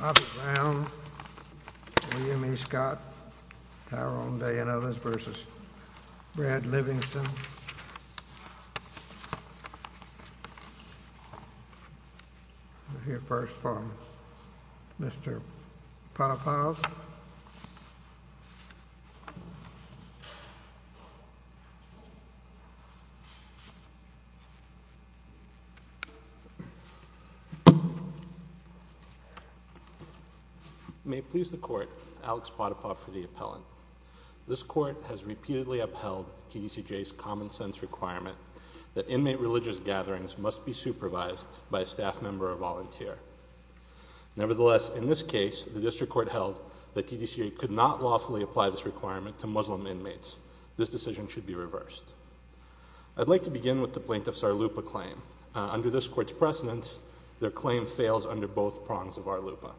Bobby Brown, William E. Scott, Tyrone Day, and others v. Brad Livingston. We'll hear first from Mr. Potipoff. May it please the court, Alex Potipoff for the appellant. This court has repeatedly upheld TDCJ's common sense requirement that inmate religious gatherings must be supervised by a staff member or volunteer. Nevertheless, in this case, the district court held that TDCJ could not lawfully apply this requirement to Muslim inmates. This decision should be reversed. I'd like to begin with the plaintiff's SARLUPA claim. Under this court's precedence, their claim fails under both prongs of SARLUPA.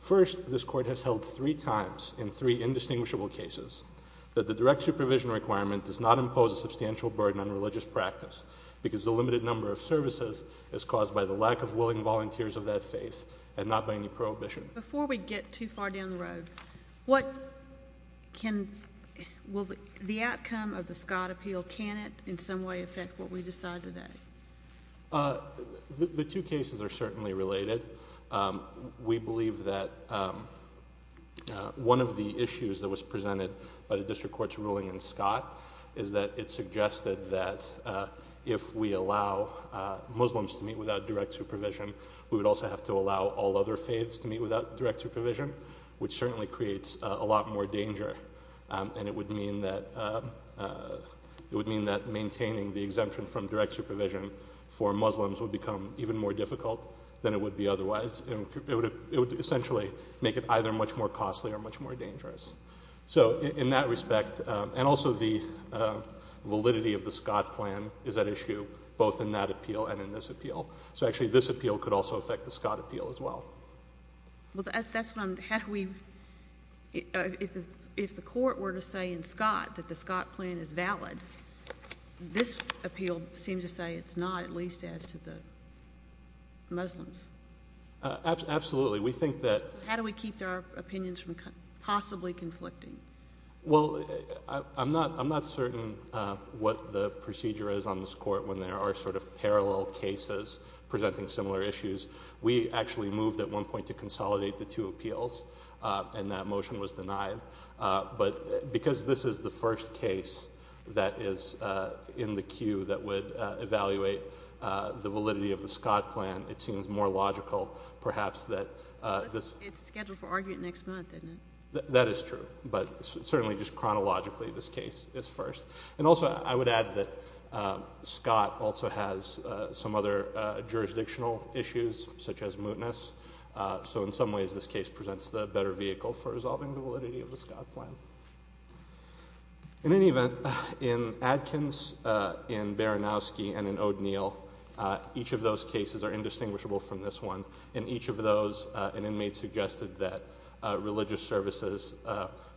First, this court has held three times in three indistinguishable cases that the direct supervision requirement does not impose a substantial burden on religious practice because the limited number of services is caused by the lack of willing volunteers of that faith and not by any prohibition. Before we get too far down the road, what can, will the outcome of the Scott appeal, can it in some way affect what we decide today? The two cases are certainly related. We believe that one of the issues that was presented by the district court's ruling in Scott is that it suggested that if we allow Muslims to meet without direct supervision, we would also have to allow all other faiths to meet without direct supervision, which certainly creates a lot more danger, and it would mean that maintaining the exemption from direct supervision for Muslims would become even more difficult than it would be otherwise. It would essentially make it either much more costly or much more dangerous. So in that respect, and also the validity of the Scott plan is at issue both in that appeal and in this appeal. So actually this appeal could also affect the Scott appeal as well. Well, that's what I'm, how do we, if the court were to say in Scott that the Scott plan is valid, this appeal seems to say it's not, at least as to the Muslims. Absolutely. We think that. How do we keep our opinions from possibly conflicting? Well, I'm not certain what the procedure is on this court when there are sort of parallel cases presenting similar issues. We actually moved at one point to consolidate the two appeals, and that motion was denied. But because this is the first case that is in the queue that would evaluate the validity of the Scott plan, it seems more logical perhaps that this. It's scheduled for argument next month, isn't it? That is true, but certainly just chronologically this case is first. And also I would add that Scott also has some other jurisdictional issues such as mootness. So in some ways this case presents the better vehicle for resolving the validity of the Scott plan. In any event, in Adkins, in Baranowski, and in O'Dneill, each of those cases are indistinguishable from this one. In each of those, an inmate suggested that religious services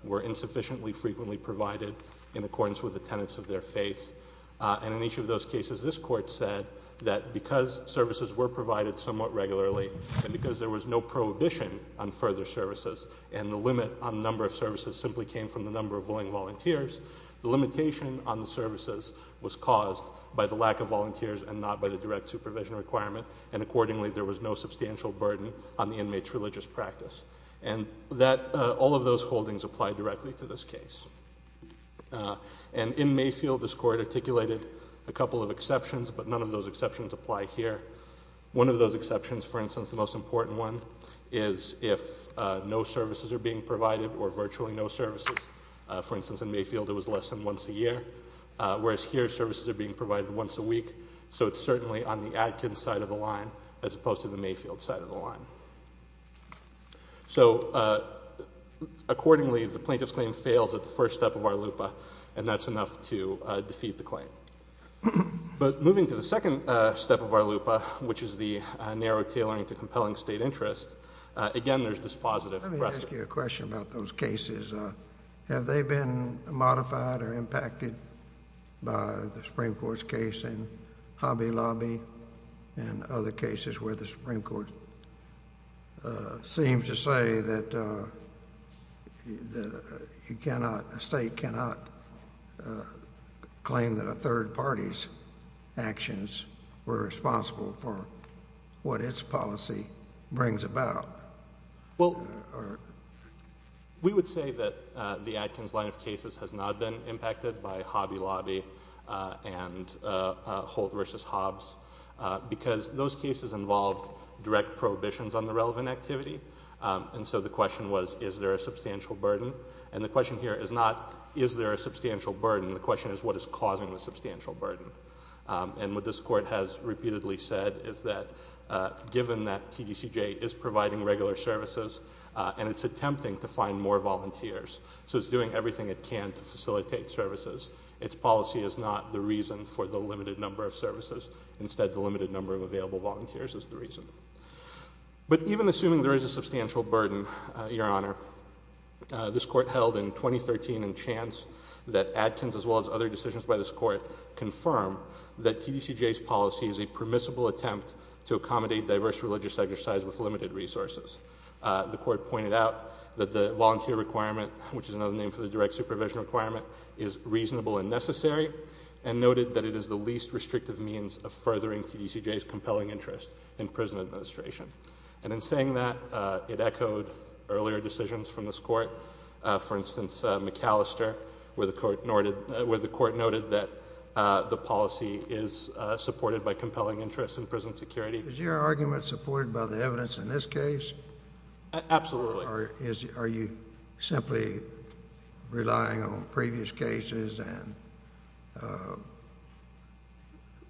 were insufficiently frequently provided in accordance with the tenets of their faith. And in each of those cases, this court said that because services were provided somewhat regularly, and because there was no prohibition on further services, and the limit on the number of services simply came from the number of willing volunteers, the limitation on the services was caused by the lack of volunteers and not by the direct supervision requirement. And accordingly, there was no substantial burden on the inmate's religious practice. And all of those holdings apply directly to this case. And in Mayfield, this court articulated a couple of exceptions, but none of those exceptions apply here. One of those exceptions, for instance, the most important one, is if no services are being provided or virtually no services. For instance, in Mayfield it was less than once a year, whereas here services are being provided once a week. So it's certainly on the Atkins side of the line as opposed to the Mayfield side of the line. So accordingly, the plaintiff's claim fails at the first step of our LUPA, and that's enough to defeat the claim. But moving to the second step of our LUPA, which is the narrow tailoring to compelling state interest, again there's this positive precedent. I wanted to ask you a question about those cases. Have they been modified or impacted by the Supreme Court's case in Hobby Lobby and other cases where the Supreme Court seems to say that a state cannot claim that a third party's actions were responsible for what its policy brings about? Well, we would say that the Atkins line of cases has not been impacted by Hobby Lobby and Holt versus Hobbs because those cases involved direct prohibitions on the relevant activity. And so the question was, is there a substantial burden? And the question here is not, is there a substantial burden? The question is, what is causing the substantial burden? And what this court has repeatedly said is that given that TDCJ is providing regular services and it's attempting to find more volunteers, so it's doing everything it can to facilitate services, its policy is not the reason for the limited number of services. Instead, the limited number of available volunteers is the reason. But even assuming there is a substantial burden, Your Honor, this court held in 2013 in chance that Atkins as well as other decisions by this court confirm that TDCJ's policy is a permissible attempt to accommodate diverse religious exercise with limited resources. The court pointed out that the volunteer requirement, which is another name for the direct supervision requirement, is reasonable and necessary, and noted that it is the least restrictive means of furthering TDCJ's compelling interest in prison administration. And in saying that, it echoed earlier decisions from this court. For instance, McAllister, where the court noted that the policy is supported by compelling interest in prison security. Is your argument supported by the evidence in this case? Absolutely. Or are you simply relying on previous cases and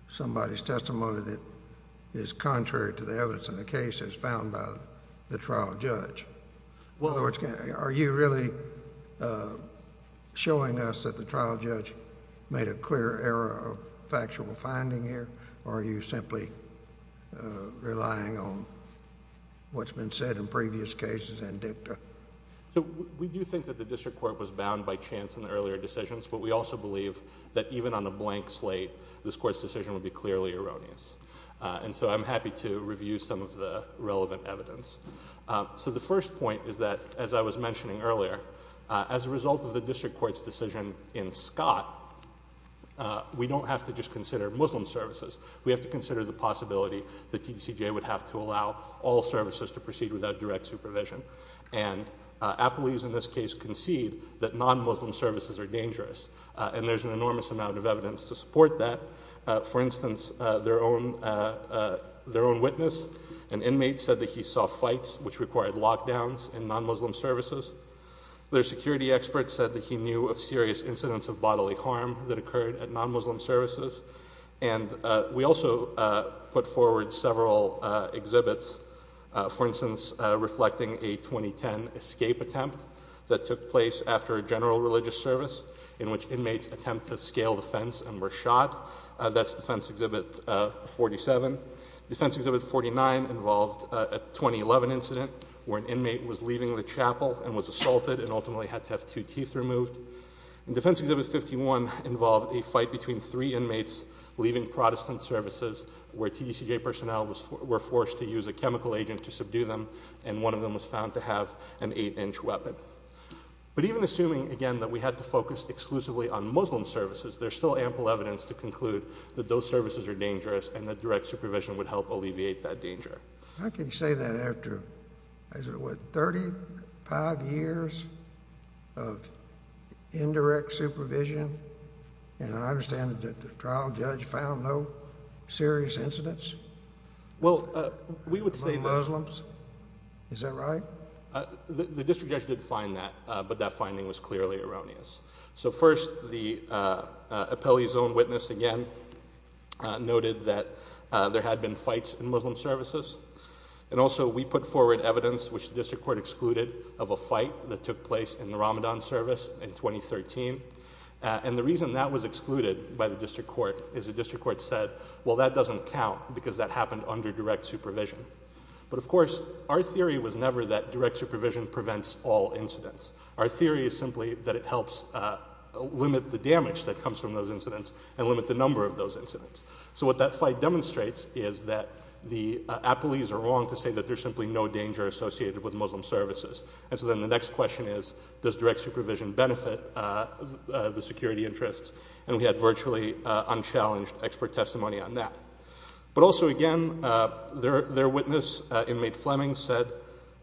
somebody's testimony that is contrary to the evidence in the case as found by the trial judge? Well, are you really showing us that the trial judge made a clear error of factual finding here? Or are you simply relying on what's been said in previous cases and dicta? So we do think that the district court was bound by chance in the earlier decisions, but we also believe that even on a blank slate, this court's decision would be clearly erroneous. And so I'm happy to review some of the relevant evidence. So the first point is that, as I was mentioning earlier, as a result of the district court's decision in Scott, we don't have to just consider Muslim services. We have to consider the possibility that TDCJ would have to allow all services to proceed without direct supervision. And Appleby's, in this case, concede that non-Muslim services are dangerous. And there's an enormous amount of evidence to support that. For instance, their own witness, an inmate, said that he saw fights which required lockdowns in non-Muslim services. Their security expert said that he knew of serious incidents of bodily harm that occurred at non-Muslim services. And we also put forward several exhibits, for instance, reflecting a 2010 escape attempt that took place after a general religious service in which inmates attempt to scale the fence and were shot. That's Defense Exhibit 47. Defense Exhibit 49 involved a 2011 incident where an inmate was leaving the chapel and was assaulted and ultimately had to have two teeth removed. And Defense Exhibit 51 involved a fight between three inmates leaving Protestant services where TDCJ personnel were forced to use a chemical agent to subdue them, and one of them was found to have an eight-inch weapon. But even assuming, again, that we had to focus exclusively on Muslim services, there's still ample evidence to conclude that those services are dangerous and that direct supervision would help alleviate that danger. How can you say that after, what, 35 years of indirect supervision? And I understand that the trial judge found no serious incidents among Muslims. Is that right? The district judge did find that, but that finding was clearly erroneous. So first, the appellee's own witness, again, noted that there had been fights in Muslim services. And also we put forward evidence which the district court excluded of a fight that took place in the Ramadan service in 2013. And the reason that was excluded by the district court is the district court said, well, that doesn't count because that happened under direct supervision. But, of course, our theory was never that direct supervision prevents all incidents. Our theory is simply that it helps limit the damage that comes from those incidents and limit the number of those incidents. So what that fight demonstrates is that the appellees are wrong to say that there's simply no danger associated with Muslim services. And so then the next question is, does direct supervision benefit the security interests? And we had virtually unchallenged expert testimony on that. But also, again, their witness, inmate Fleming, said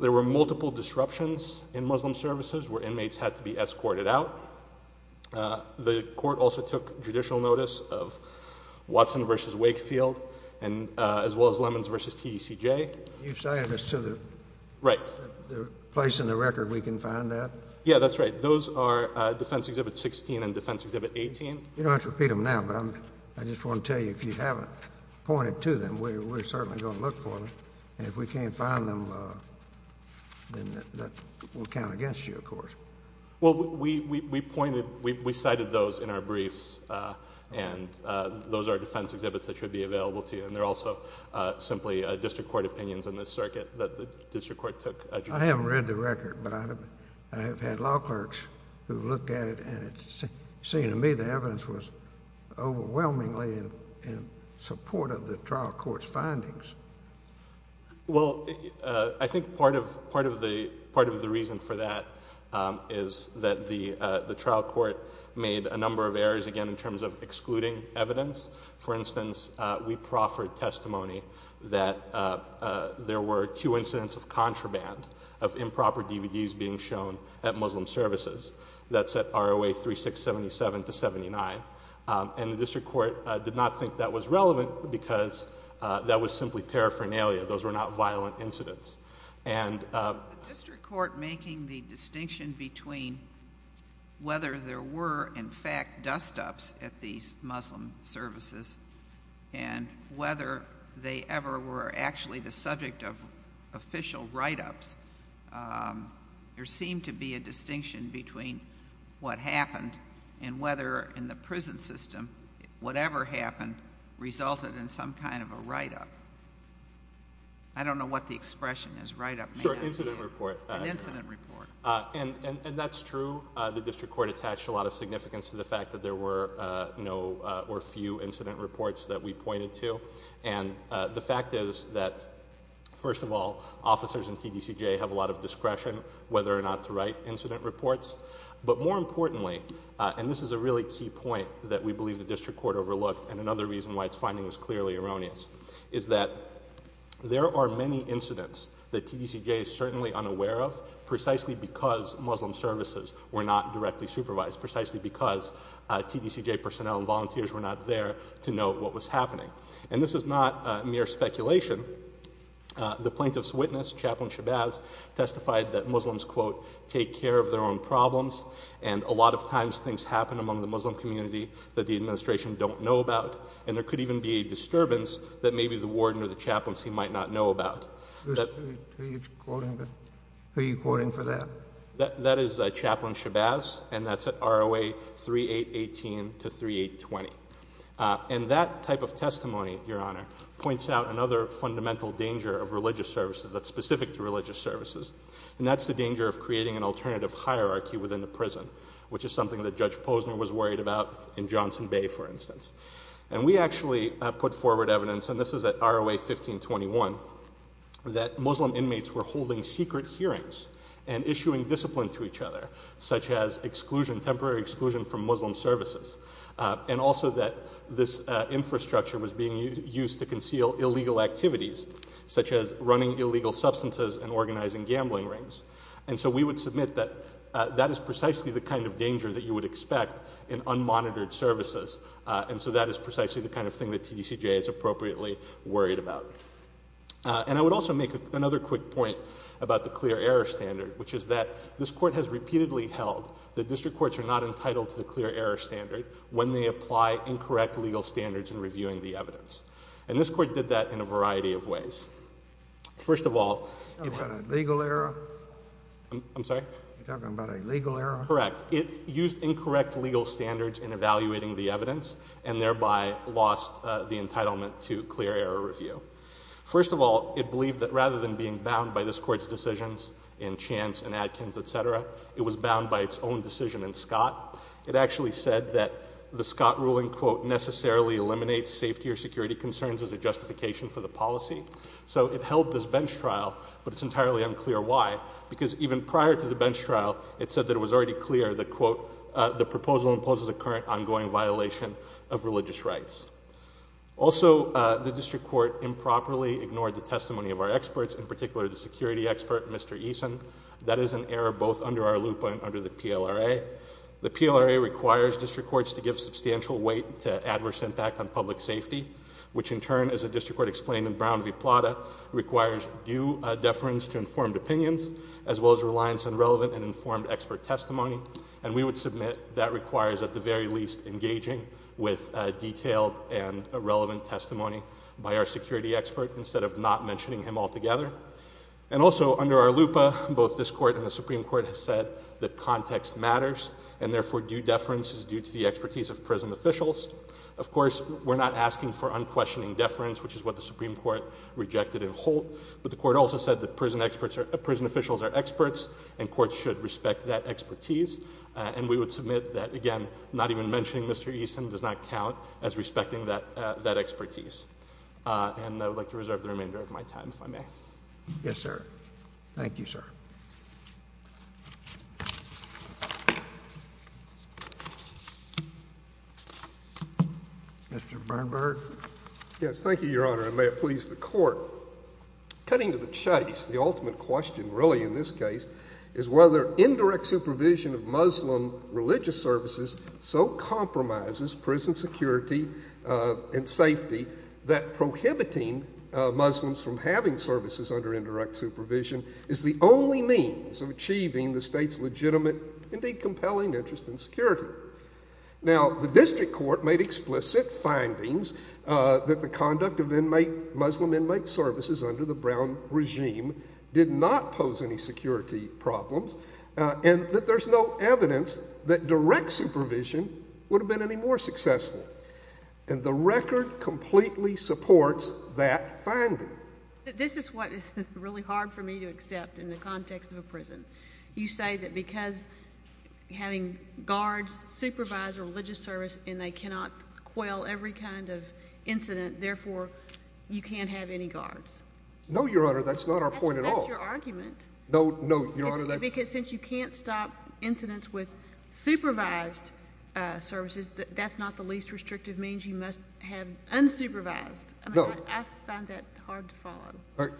there were multiple disruptions in Muslim services where inmates had to be escorted out. The court also took judicial notice of Watson v. Wakefield as well as Lemons v. TDCJ. You're saying this to the place in the record we can find that? Yeah, that's right. Those are Defense Exhibit 16 and Defense Exhibit 18. You don't have to repeat them now, but I just want to tell you, if you haven't pointed to them, we're certainly going to look for them. And if we can't find them, then that will count against you, of course. Well, we pointed, we cited those in our briefs, and those are defense exhibits that should be available to you. And they're also simply district court opinions in this circuit that the district court took. I haven't read the record, but I have had law clerks who have looked at it, and it seemed to me the evidence was overwhelmingly in support of the trial court's findings. Well, I think part of the reason for that is that the trial court made a number of errors, again, in terms of excluding evidence. For instance, we proffered testimony that there were two incidents of contraband, of improper DVDs being shown at Muslim services. That's at ROA 3677 to 79. And the district court did not think that was relevant because that was simply paraphernalia. Those were not violent incidents. Was the district court making the distinction between whether there were, in fact, dust-ups at these Muslim services and whether they ever were actually the subject of official write-ups? There seemed to be a distinction between what happened and whether, in the prison system, whatever happened resulted in some kind of a write-up. I don't know what the expression is, write-up. Sure, incident report. An incident report. And that's true. The district court attached a lot of significance to the fact that there were no or few incident reports that we pointed to. And the fact is that, first of all, officers in TDCJ have a lot of discretion whether or not to write incident reports. But more importantly, and this is a really key point that we believe the district court overlooked and another reason why its finding was clearly erroneous, is that there are many incidents that TDCJ is certainly unaware of precisely because Muslim services were not directly supervised, precisely because TDCJ personnel and volunteers were not there to note what was happening. And this is not mere speculation. The plaintiff's witness, Chaplain Shabazz, testified that Muslims, quote, and a lot of times things happen among the Muslim community that the administration don't know about. And there could even be a disturbance that maybe the warden or the chaplaincy might not know about. Who are you quoting for that? That is Chaplain Shabazz, and that's at ROA 3818 to 3820. And that type of testimony, Your Honor, points out another fundamental danger of religious services that's specific to religious services. And that's the danger of creating an alternative hierarchy within the prison, which is something that Judge Posner was worried about in Johnson Bay, for instance. And we actually put forward evidence, and this is at ROA 1521, that Muslim inmates were holding secret hearings and issuing discipline to each other, such as temporary exclusion from Muslim services, and also that this infrastructure was being used to conceal illegal activities, such as running illegal substances and organizing gambling rings. And so we would submit that that is precisely the kind of danger that you would expect in unmonitored services. And so that is precisely the kind of thing that TDCJ is appropriately worried about. And I would also make another quick point about the clear error standard, which is that this Court has repeatedly held that district courts are not entitled to the clear error standard when they apply incorrect legal standards in reviewing the evidence. And this Court did that in a variety of ways. First of all— You're talking about a legal error? I'm sorry? You're talking about a legal error? Correct. It used incorrect legal standards in evaluating the evidence, and thereby lost the entitlement to clear error review. First of all, it believed that rather than being bound by this Court's decisions in Chance and Adkins, et cetera, it was bound by its own decision in Scott. It actually said that the Scott ruling, quote, necessarily eliminates safety or security concerns as a justification for the policy. So it held this bench trial, but it's entirely unclear why. Because even prior to the bench trial, it said that it was already clear that, quote, the proposal imposes a current ongoing violation of religious rights. Also, the district court improperly ignored the testimony of our experts, in particular the security expert, Mr. Eason. That is an error both under our loop and under the PLRA. The PLRA requires district courts to give substantial weight to adverse impact on public safety, which in turn, as the district court explained in Brown v. Plata, requires due deference to informed opinions, as well as reliance on relevant and informed expert testimony. And we would submit that requires, at the very least, engaging with detailed and relevant testimony by our security expert, instead of not mentioning him altogether. And also, under our loop, both this court and the Supreme Court have said that context matters, and therefore due deference is due to the expertise of prison officials. Of course, we're not asking for unquestioning deference, which is what the Supreme Court rejected in Holt. But the court also said that prison officials are experts, and courts should respect that expertise. And we would submit that, again, not even mentioning Mr. Eason does not count as respecting that expertise. And I would like to reserve the remainder of my time, if I may. Yes, sir. Thank you, sir. Mr. Bernberg? Yes, thank you, Your Honor, and may it please the Court. Cutting to the chase, the ultimate question, really, in this case, is whether indirect supervision of Muslim religious services so compromises prison security and safety that prohibiting Muslims from having services under indirect supervision is the only means of achieving the state's legitimate, indeed compelling, interest in security. Now, the district court made explicit findings that the conduct of Muslim inmate services under the Brown regime did not pose any security problems, and that there's no evidence that direct supervision would have been any more successful. And the record completely supports that finding. This is what is really hard for me to accept in the context of a prison. You say that because having guards supervise a religious service and they cannot quell every kind of incident, therefore, you can't have any guards. No, Your Honor, that's not our point at all. That's your argument. No, Your Honor, that's... Because since you can't stop incidents with supervised services, that's not the least restrictive means. You must have unsupervised. No. I find that hard to follow.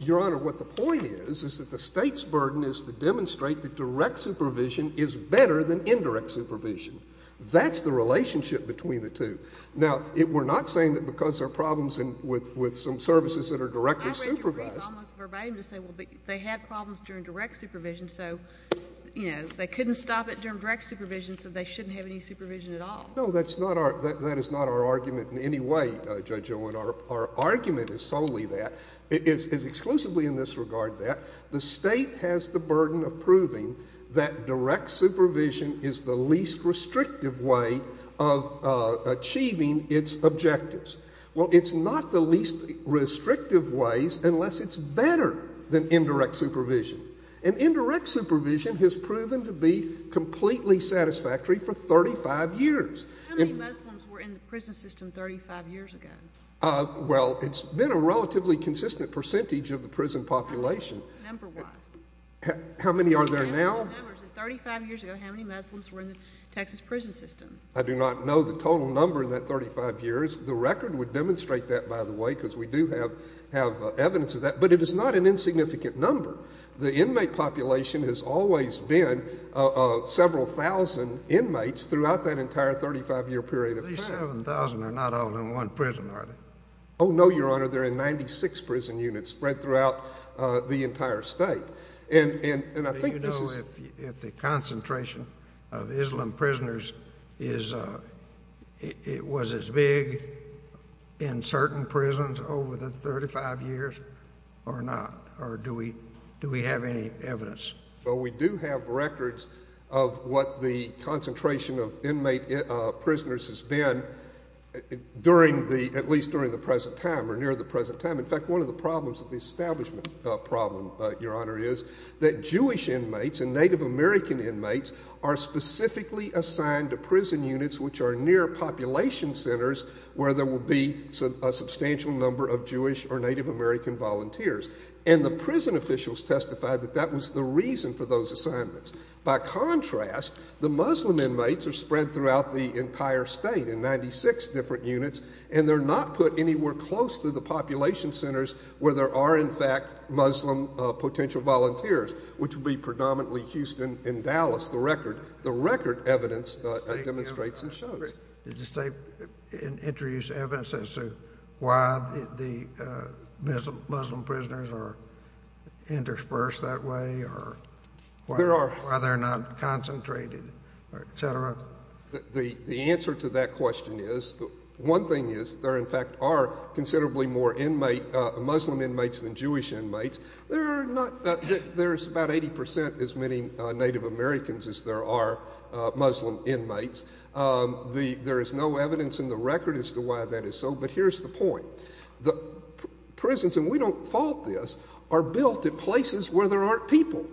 Your Honor, what the point is is that the state's burden is to demonstrate that direct supervision is better than indirect supervision. That's the relationship between the two. Now, we're not saying that because there are problems with some services that are directly supervised. It's almost verbatim to say, well, they had problems during direct supervision, so they couldn't stop it during direct supervision, so they shouldn't have any supervision at all. No, that is not our argument in any way, Judge Owen. Our argument is solely that, is exclusively in this regard that, the state has the burden of proving that direct supervision is the least restrictive way of achieving its objectives. Well, it's not the least restrictive ways unless it's better than indirect supervision. And indirect supervision has proven to be completely satisfactory for 35 years. How many Muslims were in the prison system 35 years ago? Well, it's been a relatively consistent percentage of the prison population. Number-wise. How many are there now? 35 years ago, how many Muslims were in the Texas prison system? I do not know the total number in that 35 years. The record would demonstrate that, by the way, because we do have evidence of that. But it is not an insignificant number. The inmate population has always been several thousand inmates throughout that entire 35-year period of time. These 7,000 are not all in one prison, are they? Oh, no, Your Honor. They're in 96 prison units spread throughout the entire state. Do you know if the concentration of Islam prisoners was as big in certain prisons over the 35 years or not, or do we have any evidence? Well, we do have records of what the concentration of inmate prisoners has been at least during the present time or near the present time. In fact, one of the problems of the establishment problem, Your Honor, is that Jewish inmates and Native American inmates are specifically assigned to prison units which are near population centers where there will be a substantial number of Jewish or Native American volunteers. And the prison officials testified that that was the reason for those assignments. By contrast, the Muslim inmates are spread throughout the entire state in 96 different units, and they're not put anywhere close to the population centers where there are, in fact, Muslim potential volunteers, which would be predominantly Houston and Dallas. The record evidence demonstrates and shows. Did the state introduce evidence as to why the Muslim prisoners are interspersed that way or why they're not concentrated, et cetera? The answer to that question is one thing is there, in fact, are considerably more Muslim inmates than Jewish inmates. There's about 80 percent as many Native Americans as there are Muslim inmates. There is no evidence in the record as to why that is so, but here's the point. The prisons, and we don't fault this, are built at places where there aren't people.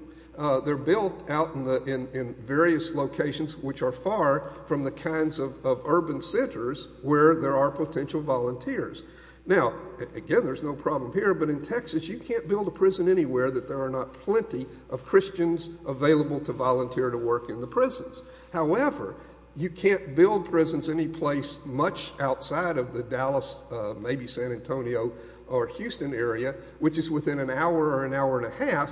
They're built out in various locations which are far from the kinds of urban centers where there are potential volunteers. Now, again, there's no problem here, but in Texas you can't build a prison anywhere that there are not plenty of Christians available to volunteer to work in the prisons. However, you can't build prisons anyplace much outside of the Dallas, maybe San Antonio or Houston area, which is within an hour or an hour and a half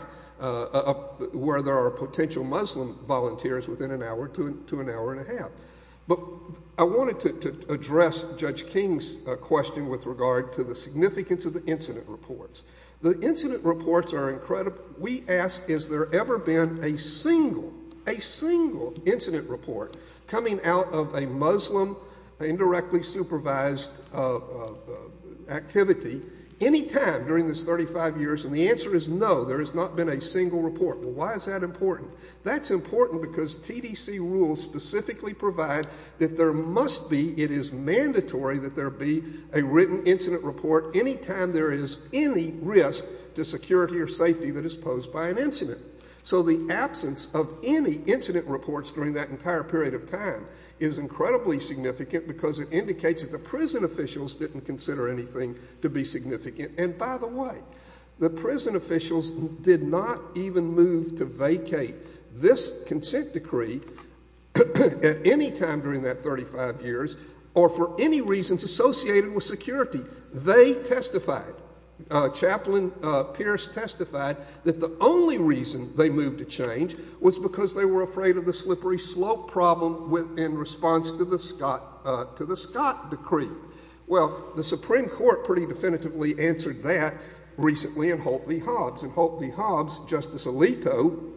where there are potential Muslim volunteers within an hour to an hour and a half. But I wanted to address Judge King's question with regard to the significance of the incident reports. The incident reports are incredible. We ask has there ever been a single, a single incident report coming out of a Muslim indirectly supervised activity any time during this 35 years, and the answer is no, there has not been a single report. Well, why is that important? That's important because TDC rules specifically provide that there must be, it is mandatory that there be, a written incident report any time there is any risk to security or safety that is posed by an incident. So the absence of any incident reports during that entire period of time is incredibly significant because it indicates that the prison officials didn't consider anything to be significant. And by the way, the prison officials did not even move to vacate this consent decree at any time during that 35 years or for any reasons associated with security. They testified. Chaplain Pierce testified that the only reason they moved to change was because they were afraid of the slippery slope problem in response to the Scott decree. Well, the Supreme Court pretty definitively answered that recently in Holt v. Hobbs, Justice Alito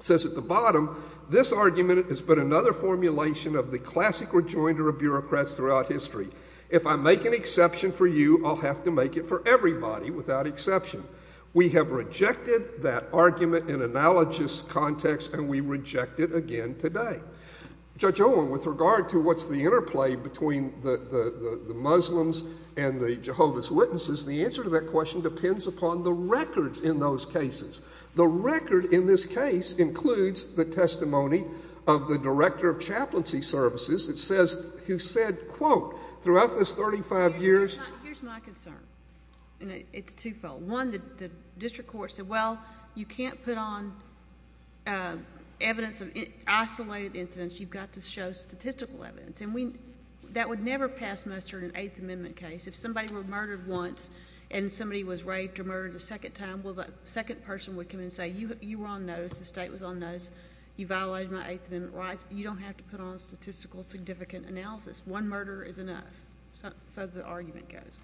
says at the bottom, this argument is but another formulation of the classic rejoinder of bureaucrats throughout history. If I make an exception for you, I'll have to make it for everybody without exception. We have rejected that argument in analogous context and we reject it again today. Judge Owen, with regard to what's the interplay between the Muslims and the Jehovah's Witnesses, the answer to that question depends upon the records in those cases. The record in this case includes the testimony of the director of chaplaincy services who said, quote, throughout this 35 years. Here's my concern, and it's twofold. One, the district court said, well, you can't put on evidence of isolated incidents. You've got to show statistical evidence. And that would never pass muster in an Eighth Amendment case. If somebody were murdered once and somebody was raped or murdered a second time, well, the second person would come and say, you were on notice, the state was on notice, you violated my Eighth Amendment rights. You don't have to put on statistical significant analysis. One murder is enough. So the argument goes.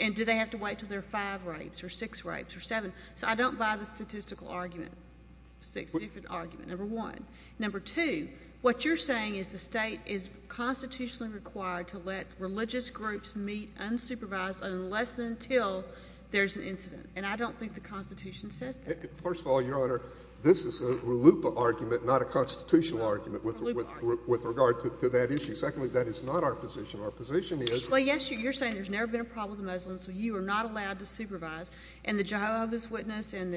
And do they have to wait until they're five rapes or six rapes or seven? So I don't buy the statistical argument, statistical argument, number one. Number two, what you're saying is the state is constitutionally required to let religious groups meet unsupervised unless and until there's an incident. And I don't think the Constitution says that. First of all, Your Honor, this is a LUPA argument, not a constitutional argument with regard to that issue. Secondly, that is not our position. Our position is. Well, yes, you're saying there's never been a problem with the Muslims, so you are not allowed to supervise. And the Jehovah's Witness and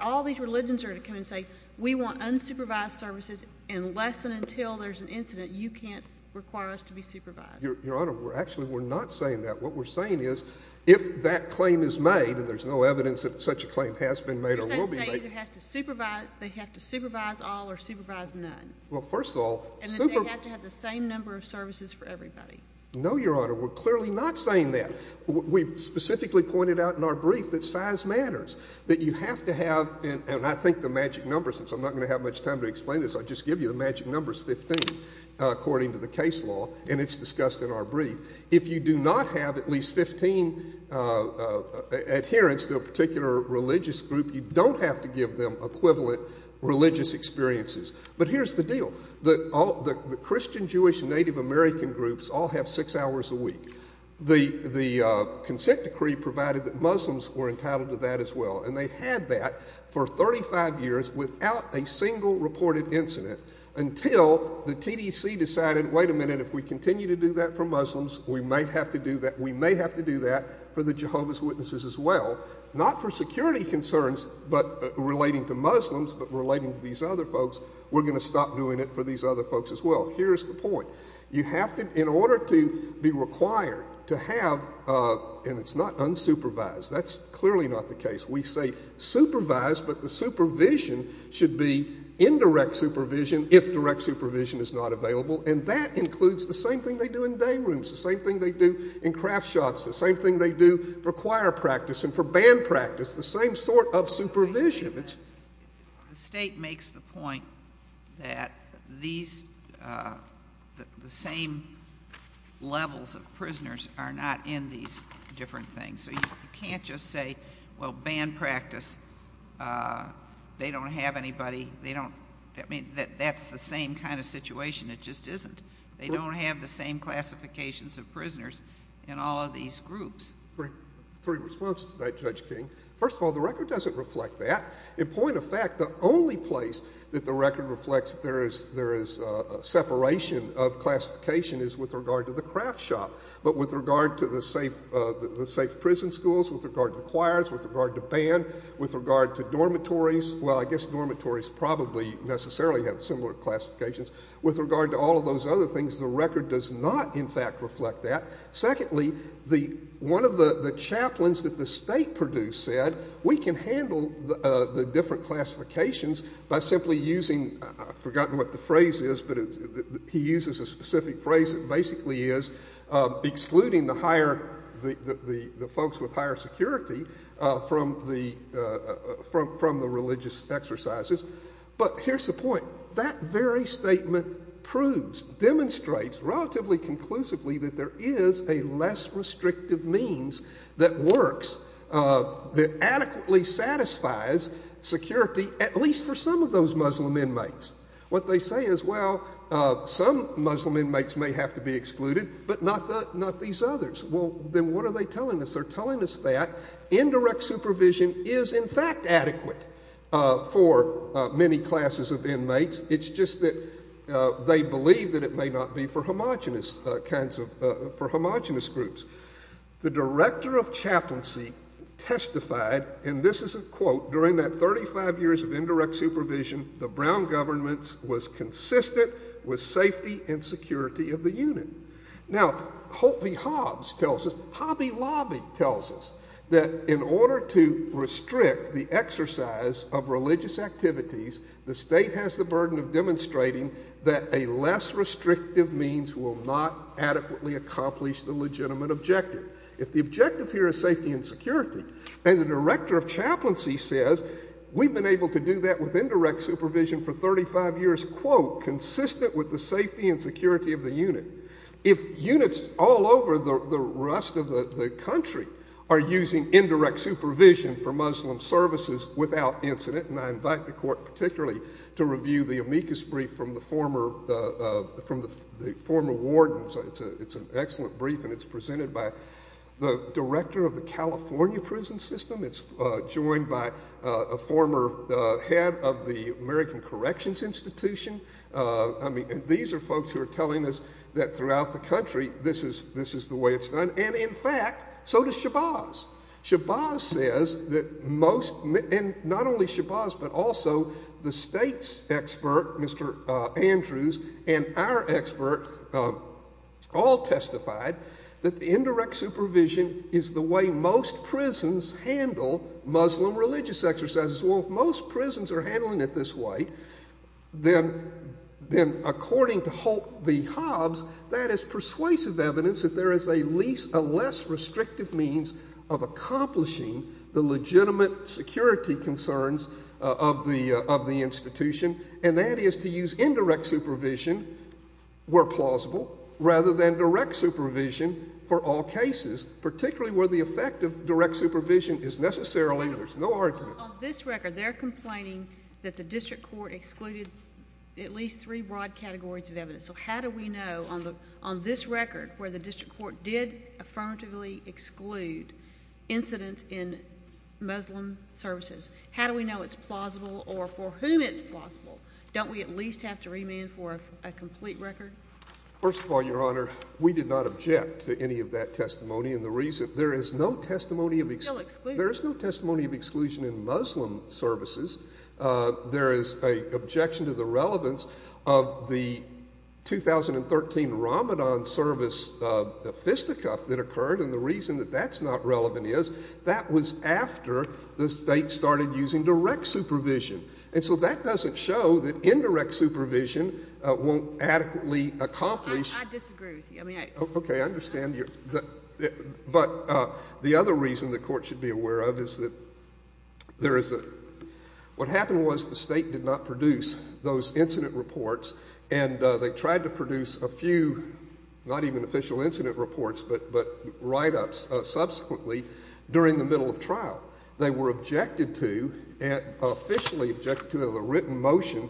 all these religions are going to come and say, we want unsupervised services unless and until there's an incident. You can't require us to be supervised. Your Honor, actually, we're not saying that. What we're saying is if that claim is made, and there's no evidence that such a claim has been made or will be made. You're saying the state either has to supervise, they have to supervise all or supervise none. Well, first of all. And that they have to have the same number of services for everybody. No, Your Honor, we're clearly not saying that. We specifically pointed out in our brief that size matters, that you have to have, and I think the magic number, since I'm not going to have much time to explain this, I'll just give you the magic number, 15, according to the case law, and it's discussed in our brief. If you do not have at least 15 adherents to a particular religious group, you don't have to give them equivalent religious experiences. But here's the deal. The Christian, Jewish, Native American groups all have six hours a week. The consent decree provided that Muslims were entitled to that as well, and they had that for 35 years without a single reported incident until the TDC decided, wait a minute, if we continue to do that for Muslims, we may have to do that for the Jehovah's Witnesses as well. Not for security concerns, but relating to Muslims, but relating to these other folks. We're going to stop doing it for these other folks as well. Here's the point. You have to, in order to be required to have, and it's not unsupervised, that's clearly not the case. We say supervised, but the supervision should be indirect supervision if direct supervision is not available, and that includes the same thing they do in day rooms, the same thing they do in craft shops, the same thing they do for choir practice and for band practice, the same sort of supervision. The state makes the point that the same levels of prisoners are not in these different things, so you can't just say, well, band practice, they don't have anybody. That's the same kind of situation. It just isn't. They don't have the same classifications of prisoners in all of these groups. Three responses tonight, Judge King. First of all, the record doesn't reflect that. In point of fact, the only place that the record reflects there is separation of classification is with regard to the craft shop, but with regard to the safe prison schools, with regard to the choirs, with regard to band, with regard to dormitories. Well, I guess dormitories probably necessarily have similar classifications. With regard to all of those other things, the record does not, in fact, reflect that. Secondly, one of the chaplains that the state produced said, we can handle the different classifications by simply using, I've forgotten what the phrase is, but he uses a specific phrase that basically is excluding the folks with higher security from the religious exercises. But here's the point. That very statement proves, demonstrates relatively conclusively that there is a less restrictive means that works, that adequately satisfies security, at least for some of those Muslim inmates. What they say is, well, some Muslim inmates may have to be excluded, but not these others. Well, then what are they telling us? They're telling us that indirect supervision is, in fact, adequate for many classes of inmates. It's just that they believe that it may not be for homogenous kinds of, for homogenous groups. The director of chaplaincy testified, and this is a quote, during that 35 years of indirect supervision, the Brown government was consistent with safety and security of the unit. Now, Holt v. Hobbs tells us, Hobby Lobby tells us that in order to restrict the exercise of religious activities, the state has the burden of demonstrating that a less restrictive means will not adequately accomplish the legitimate objective. If the objective here is safety and security, and the director of chaplaincy says, we've been able to do that with indirect supervision for 35 years, quote, consistent with the safety and security of the unit. If units all over the rest of the country are using indirect supervision for Muslim services without incident, and I invite the court particularly to review the amicus brief from the former wardens. It's an excellent brief, and it's presented by the director of the California prison system. It's joined by a former head of the American Corrections Institution. I mean, these are folks who are telling us that throughout the country this is the way it's done, and in fact, so does Shabazz. Shabazz says that most, and not only Shabazz, but also the state's expert, Mr. Andrews, and our expert all testified that the indirect supervision is the way most prisons handle Muslim religious exercises. Well, if most prisons are handling it this way, then according to Holt v. Hobbs, that is persuasive evidence that there is a less restrictive means of accomplishing the legitimate security concerns of the institution, and that is to use indirect supervision where plausible rather than direct supervision for all cases, particularly where the effect of direct supervision is necessarily there's no argument. On this record, they're complaining that the district court excluded at least three broad categories of evidence. So how do we know on this record where the district court did affirmatively exclude incidents in Muslim services, how do we know it's plausible or for whom it's plausible? Don't we at least have to remand for a complete record? First of all, Your Honor, we did not object to any of that testimony, and the reason there is no testimony of exclusion in Muslim services. There is an objection to the relevance of the 2013 Ramadan service, the fisticuff that occurred, and the reason that that's not relevant is that was after the state started using direct supervision, and so that doesn't show that indirect supervision won't adequately accomplish. I disagree with you. Okay. I understand. But the other reason the court should be aware of is that there is a what happened was the state did not produce those incident reports, and they tried to produce a few, not even official incident reports, but write-ups subsequently during the middle of trial. They were objected to and officially objected to a written motion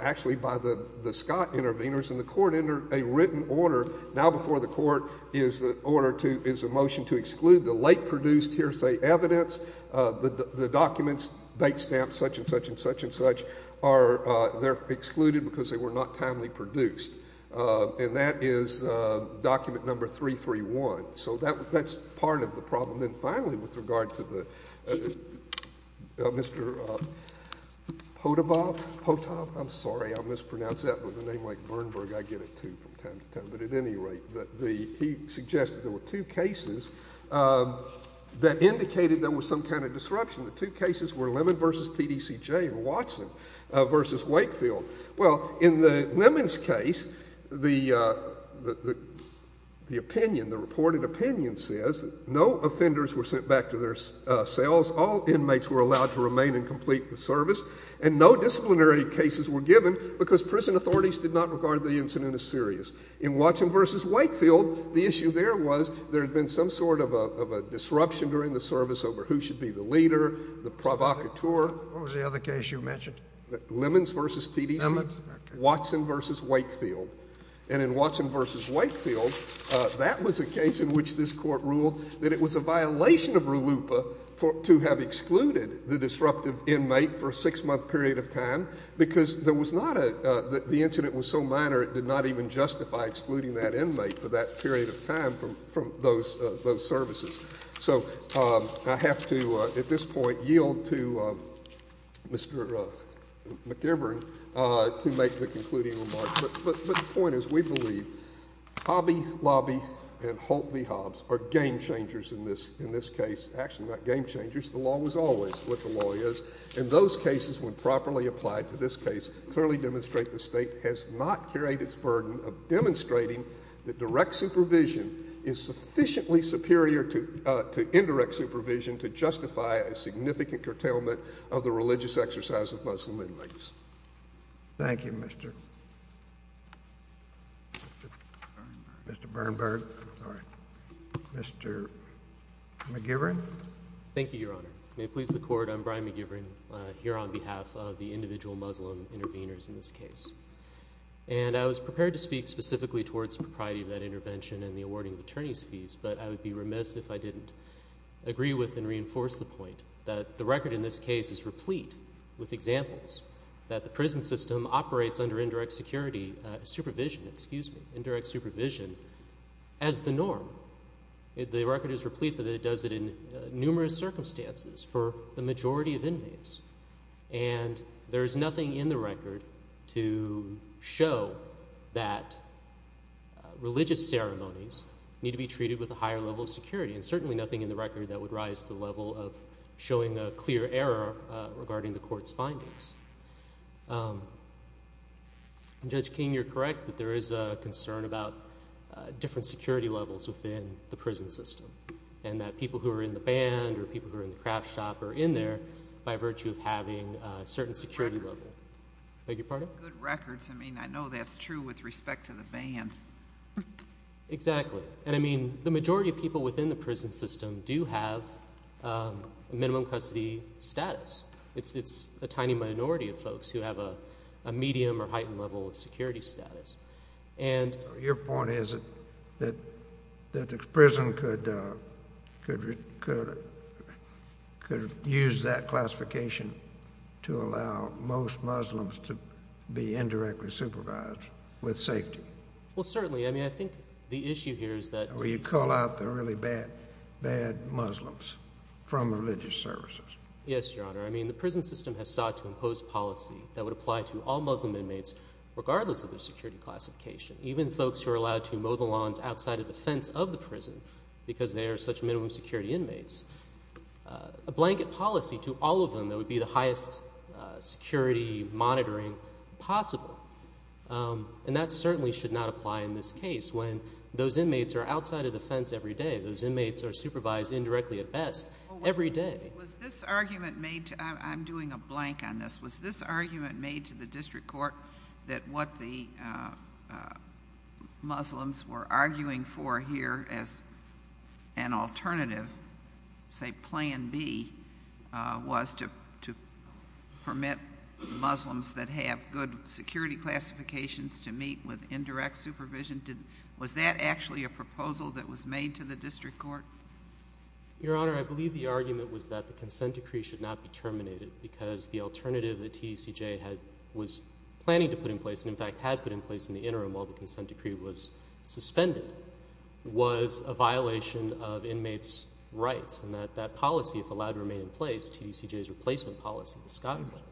actually by the Scott interveners, and the court entered a written order now before the court is a motion to exclude the late-produced hearsay evidence, the documents, date stamps, such and such and such and such, they're excluded because they were not timely produced, and that is document number 331. So that's part of the problem. Then, finally, with regard to Mr. Potov, I'm sorry, I mispronounced that with a name like Bernberg. I get it, too, from time to time. He suggested there were two cases that indicated there was some kind of disruption. The two cases were Lemon v. TDCJ and Watson v. Wakefield. Well, in the Lemons case, the opinion, the reported opinion says no offenders were sent back to their cells, all inmates were allowed to remain and complete the service, and no disciplinary cases were given because prison authorities did not regard the incident as serious. In Watson v. Wakefield, the issue there was there had been some sort of a disruption during the service over who should be the leader, the provocateur. What was the other case you mentioned? Lemons v. TDCJ. Lemons. Watson v. Wakefield. And in Watson v. Wakefield, that was a case in which this court ruled that it was a violation of RLUIPA because the incident was so minor it did not even justify excluding that inmate for that period of time from those services. So I have to, at this point, yield to Mr. McIvern to make the concluding remarks. But the point is we believe Hobby Lobby and Holt v. Hobbs are game changers in this case. Actually, not game changers. The law was always what the law is. And those cases, when properly applied to this case, clearly demonstrate the State has not carried its burden of demonstrating that direct supervision is sufficiently superior to indirect supervision to justify a significant curtailment of the religious exercise of Muslim inmates. Thank you, Mr. Bernberg. Mr. McIvern. Thank you, Your Honor. May it please the Court, I'm Brian McIvern here on behalf of the individual Muslim interveners in this case. And I was prepared to speak specifically towards the propriety of that intervention and the awarding of attorney's fees, but I would be remiss if I didn't agree with and reinforce the point that the record in this case is replete with examples that the prison system operates under indirect supervision as the norm. The record is replete that it does it in numerous circumstances for the majority of inmates. And there is nothing in the record to show that religious ceremonies need to be treated with a higher level of security and certainly nothing in the record that would rise to the level of showing a clear error regarding the Court's findings. Judge King, you're correct that there is a concern about different security levels within the prison system and that people who are in the band or people who are in the craft shop are in there by virtue of having a certain security level. Good records. I beg your pardon? Good records. I mean, I know that's true with respect to the band. Exactly. And I mean, the majority of people within the prison system do have minimum custody status. It's a tiny minority of folks who have a medium or heightened level of security status. Your point is that the prison could use that classification to allow most Muslims to be indirectly supervised with safety. Well, certainly. I mean, I think the issue here is that— Or you call out the really bad Muslims from religious services. Yes, Your Honor. I mean, the prison system has sought to impose policy that would apply to all Muslim inmates regardless of their security classification, even folks who are allowed to mow the lawns outside of the fence of the prison because they are such minimum security inmates, a blanket policy to all of them that would be the highest security monitoring possible. And that certainly should not apply in this case when those inmates are outside of the fence every day. Those inmates are supervised indirectly at best every day. Was this argument made—I'm doing a blank on this. Was this argument made to the district court that what the Muslims were arguing for here as an alternative, say Plan B, was to permit Muslims that have good security classifications to meet with indirect supervision? Was that actually a proposal that was made to the district court? Your Honor, I believe the argument was that the consent decree should not be terminated because the alternative that TDCJ was planning to put in place, and in fact had put in place in the interim while the consent decree was suspended, was a violation of inmates' rights and that that policy, if allowed to remain in place, TDCJ's replacement policy, the Scott plan.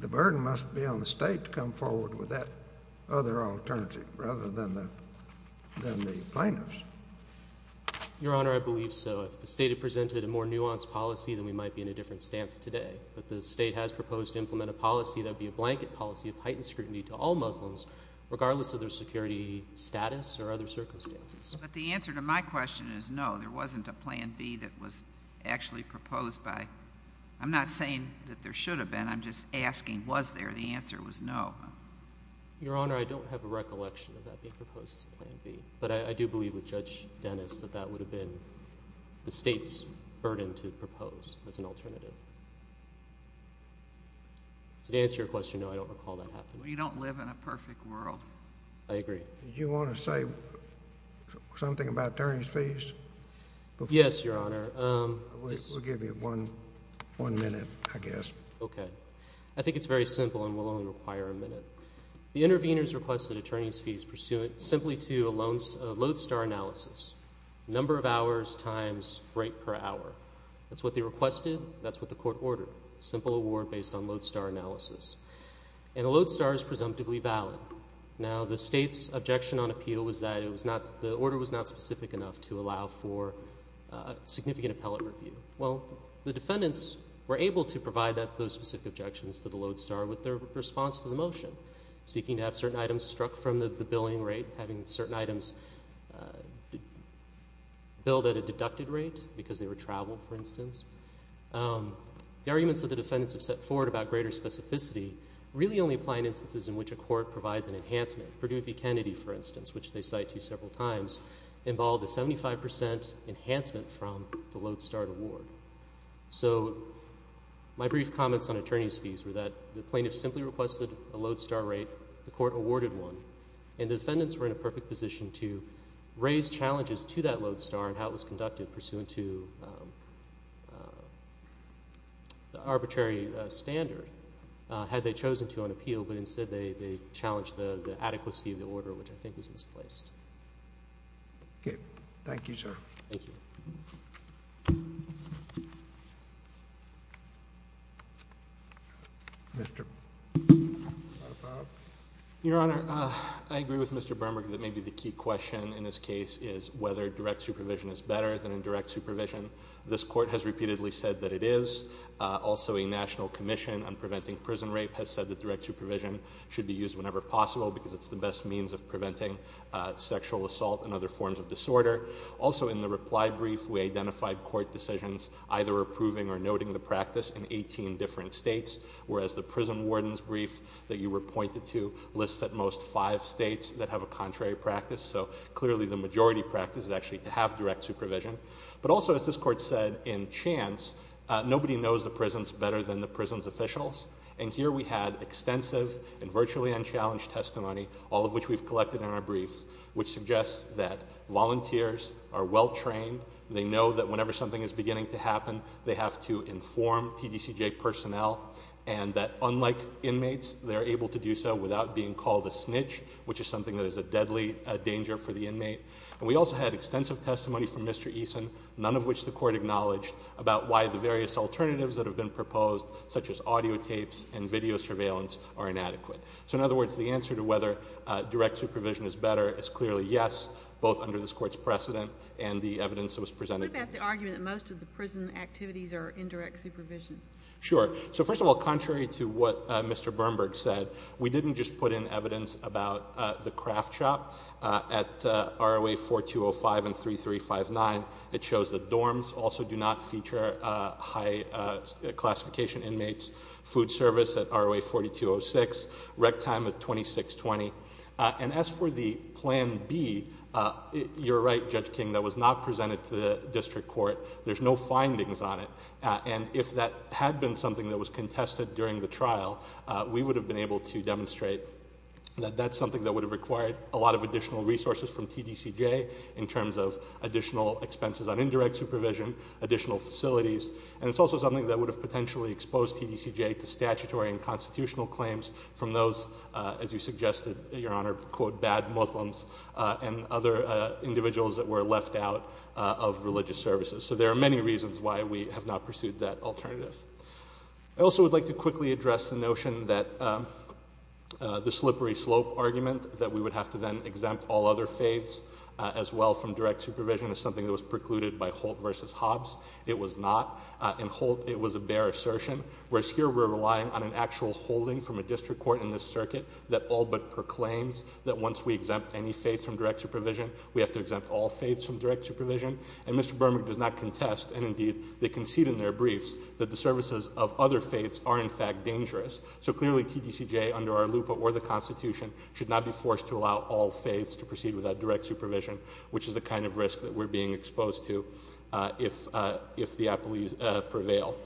The burden must be on the state to come forward with that other alternative rather than the plaintiffs. Your Honor, I believe so. If the state had presented a more nuanced policy, then we might be in a different stance today. But the state has proposed to implement a policy that would be a blanket policy of heightened scrutiny to all Muslims, regardless of their security status or other circumstances. But the answer to my question is no, there wasn't a Plan B that was actually proposed by— It should have been. I'm just asking, was there? The answer was no. Your Honor, I don't have a recollection of that being proposed as a Plan B, but I do believe with Judge Dennis that that would have been the state's burden to propose as an alternative. So to answer your question, no, I don't recall that happening. We don't live in a perfect world. I agree. Did you want to say something about attorneys' fees? Yes, Your Honor. We'll give you one minute, I guess. Okay. I think it's very simple and will only require a minute. The interveners requested attorneys' fees pursuant simply to a lodestar analysis, number of hours times rate per hour. That's what they requested. That's what the court ordered, a simple award based on lodestar analysis. And a lodestar is presumptively valid. Now, the state's objection on appeal was that the order was not specific enough to allow for significant appellate review. Well, the defendants were able to provide those specific objections to the lodestar with their response to the motion, seeking to have certain items struck from the billing rate, having certain items billed at a deducted rate because they were traveled, for instance. The arguments that the defendants have set forward about greater specificity really only apply in instances in which a court provides an enhancement. Perdue v. Kennedy, for instance, which they cite to several times, involved a 75% enhancement from the lodestar award. So my brief comments on attorneys' fees were that the plaintiff simply requested a lodestar rate, the court awarded one, and the defendants were in a perfect position to raise challenges to that lodestar and how it was conducted pursuant to the arbitrary standard. They had chosen to on appeal, but instead they challenged the adequacy of the order, which I think was misplaced. Okay. Thank you, sir. Thank you. Mr. Vodafoff. Your Honor, I agree with Mr. Bermack that maybe the key question in this case is whether direct supervision is better than indirect supervision. This court has repeatedly said that it is. Also, a national commission on preventing prison rape has said that direct supervision should be used whenever possible because it's the best means of preventing sexual assault and other forms of disorder. Also, in the reply brief, we identified court decisions either approving or noting the practice in 18 different states, whereas the prison warden's brief that you were pointed to lists at most five states that have a contrary practice. So clearly the majority practice is actually to have direct supervision. But also, as this court said in Chance, nobody knows the prisons better than the prison's officials. And here we had extensive and virtually unchallenged testimony, all of which we've collected in our briefs, which suggests that volunteers are well trained. They know that whenever something is beginning to happen, they have to inform TDCJ personnel, and that unlike inmates, they're able to do so without being called a snitch, which is something that is a deadly danger for the inmate. And we also had extensive testimony from Mr. Eason, none of which the court acknowledged, about why the various alternatives that have been proposed, such as audio tapes and video surveillance, are inadequate. So in other words, the answer to whether direct supervision is better is clearly yes, both under this court's precedent and the evidence that was presented. What about the argument that most of the prison activities are in direct supervision? Sure. So first of all, contrary to what Mr. Bernberg said, we didn't just put in evidence about the craft shop at ROA 4205 and 3359. It shows that dorms also do not feature high classification inmates, food service at ROA 4206, rec time of 2620. And as for the plan B, you're right, Judge King, that was not presented to the district court. There's no findings on it. And if that had been something that was contested during the trial, we would have been able to demonstrate that that's something that would have required a lot of additional resources from TDCJ in terms of additional expenses on indirect supervision, additional facilities. And it's also something that would have potentially exposed TDCJ to statutory and constitutional claims from those, as you suggested, Your Honor, quote, bad Muslims and other individuals that were left out of religious services. So there are many reasons why we have not pursued that alternative. I also would like to quickly address the notion that the slippery slope argument, that we would have to then exempt all other faiths as well from direct supervision, is something that was precluded by Holt v. Hobbs. It was not. In Holt, it was a bare assertion, whereas here we're relying on an actual holding from a district court in this circuit that all but proclaims that once we exempt any faiths from direct supervision, we have to exempt all faiths from direct supervision. And Mr. Berman does not contest, and indeed they concede in their briefs, that the services of other faiths are in fact dangerous. So clearly TDCJ, under our LUPA or the Constitution, should not be forced to allow all faiths to proceed without direct supervision, which is the kind of risk that we're being exposed to if the appellees prevail.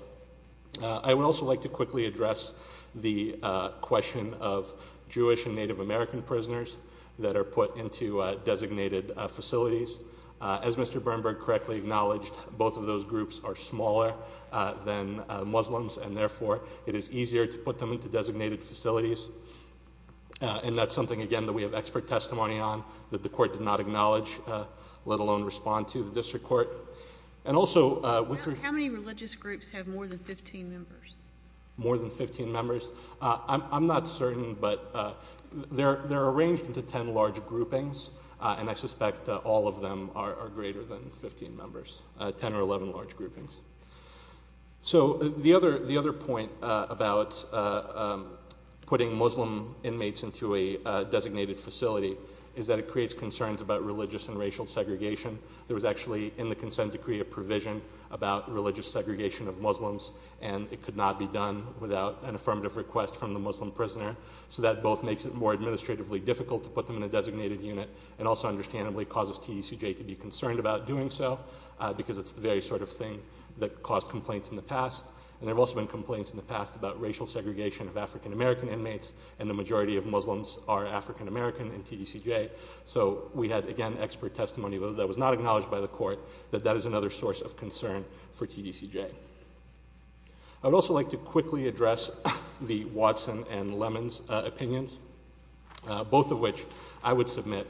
I would also like to quickly address the question of Jewish and Native American prisoners that are put into designated facilities. As Mr. Bernberg correctly acknowledged, both of those groups are smaller than Muslims, and therefore it is easier to put them into designated facilities. And that's something, again, that we have expert testimony on, that the court did not acknowledge, let alone respond to the district court. And also— How many religious groups have more than 15 members? More than 15 members? I'm not certain, but they're arranged into 10 large groupings, and I suspect all of them are greater than 15 members, 10 or 11 large groupings. So the other point about putting Muslim inmates into a designated facility is that it creates concerns about religious and racial segregation. There was actually, in the consent decree, a provision about religious segregation of Muslims, and it could not be done without an affirmative request from the Muslim prisoner. So that both makes it more administratively difficult to put them in a designated unit, and also understandably causes TDCJ to be concerned about doing so, because it's the very sort of thing that caused complaints in the past. And there have also been complaints in the past about racial segregation of African American inmates, and the majority of Muslims are African American in TDCJ. So we had, again, expert testimony that was not acknowledged by the court that that is another source of concern for TDCJ. I would also like to quickly address the Watson and Lemons opinions, both of which I would submit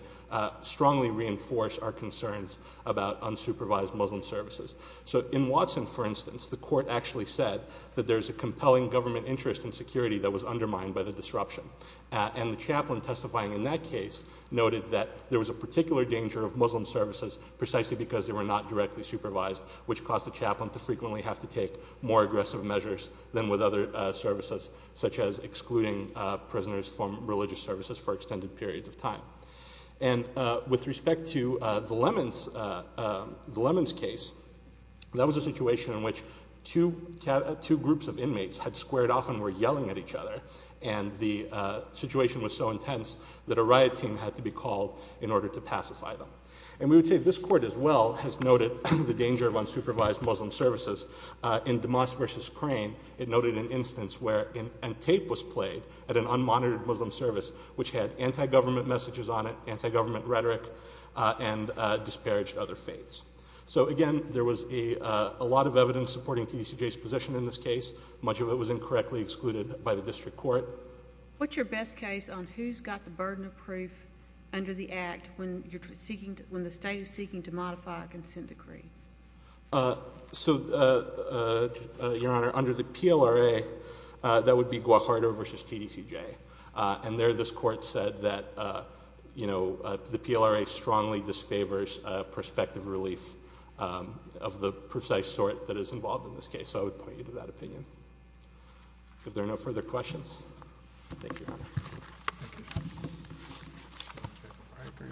strongly reinforce our concerns about unsupervised Muslim services. So in Watson, for instance, the court actually said that there's a compelling government interest in security that was undermined by the disruption. And the chaplain testifying in that case noted that there was a particular danger of Muslim services precisely because they were not directly supervised, which caused the chaplain to frequently have to take more aggressive measures than with other services, such as excluding prisoners from religious services for extended periods of time. And with respect to the Lemons case, that was a situation in which two groups of inmates had squared off and were yelling at each other, and the situation was so intense that a riot team had to be called in order to pacify them. And we would say this court as well has noted the danger of unsupervised Muslim services. In DeMoss v. Crane, it noted an instance where a tape was played at an unmonitored Muslim service, which had anti-government messages on it, anti-government rhetoric, and disparaged other faiths. So, again, there was a lot of evidence supporting TDCJ's position in this case. Much of it was incorrectly excluded by the district court. What's your best case on who's got the burden of proof under the Act when the state is seeking to modify a consent decree? So, Your Honor, under the PLRA, that would be Guajardo v. TDCJ. And there this court said that the PLRA strongly disfavors prospective relief of the precise sort that is involved in this case. So I would point you to that opinion. If there are no further questions, thank you.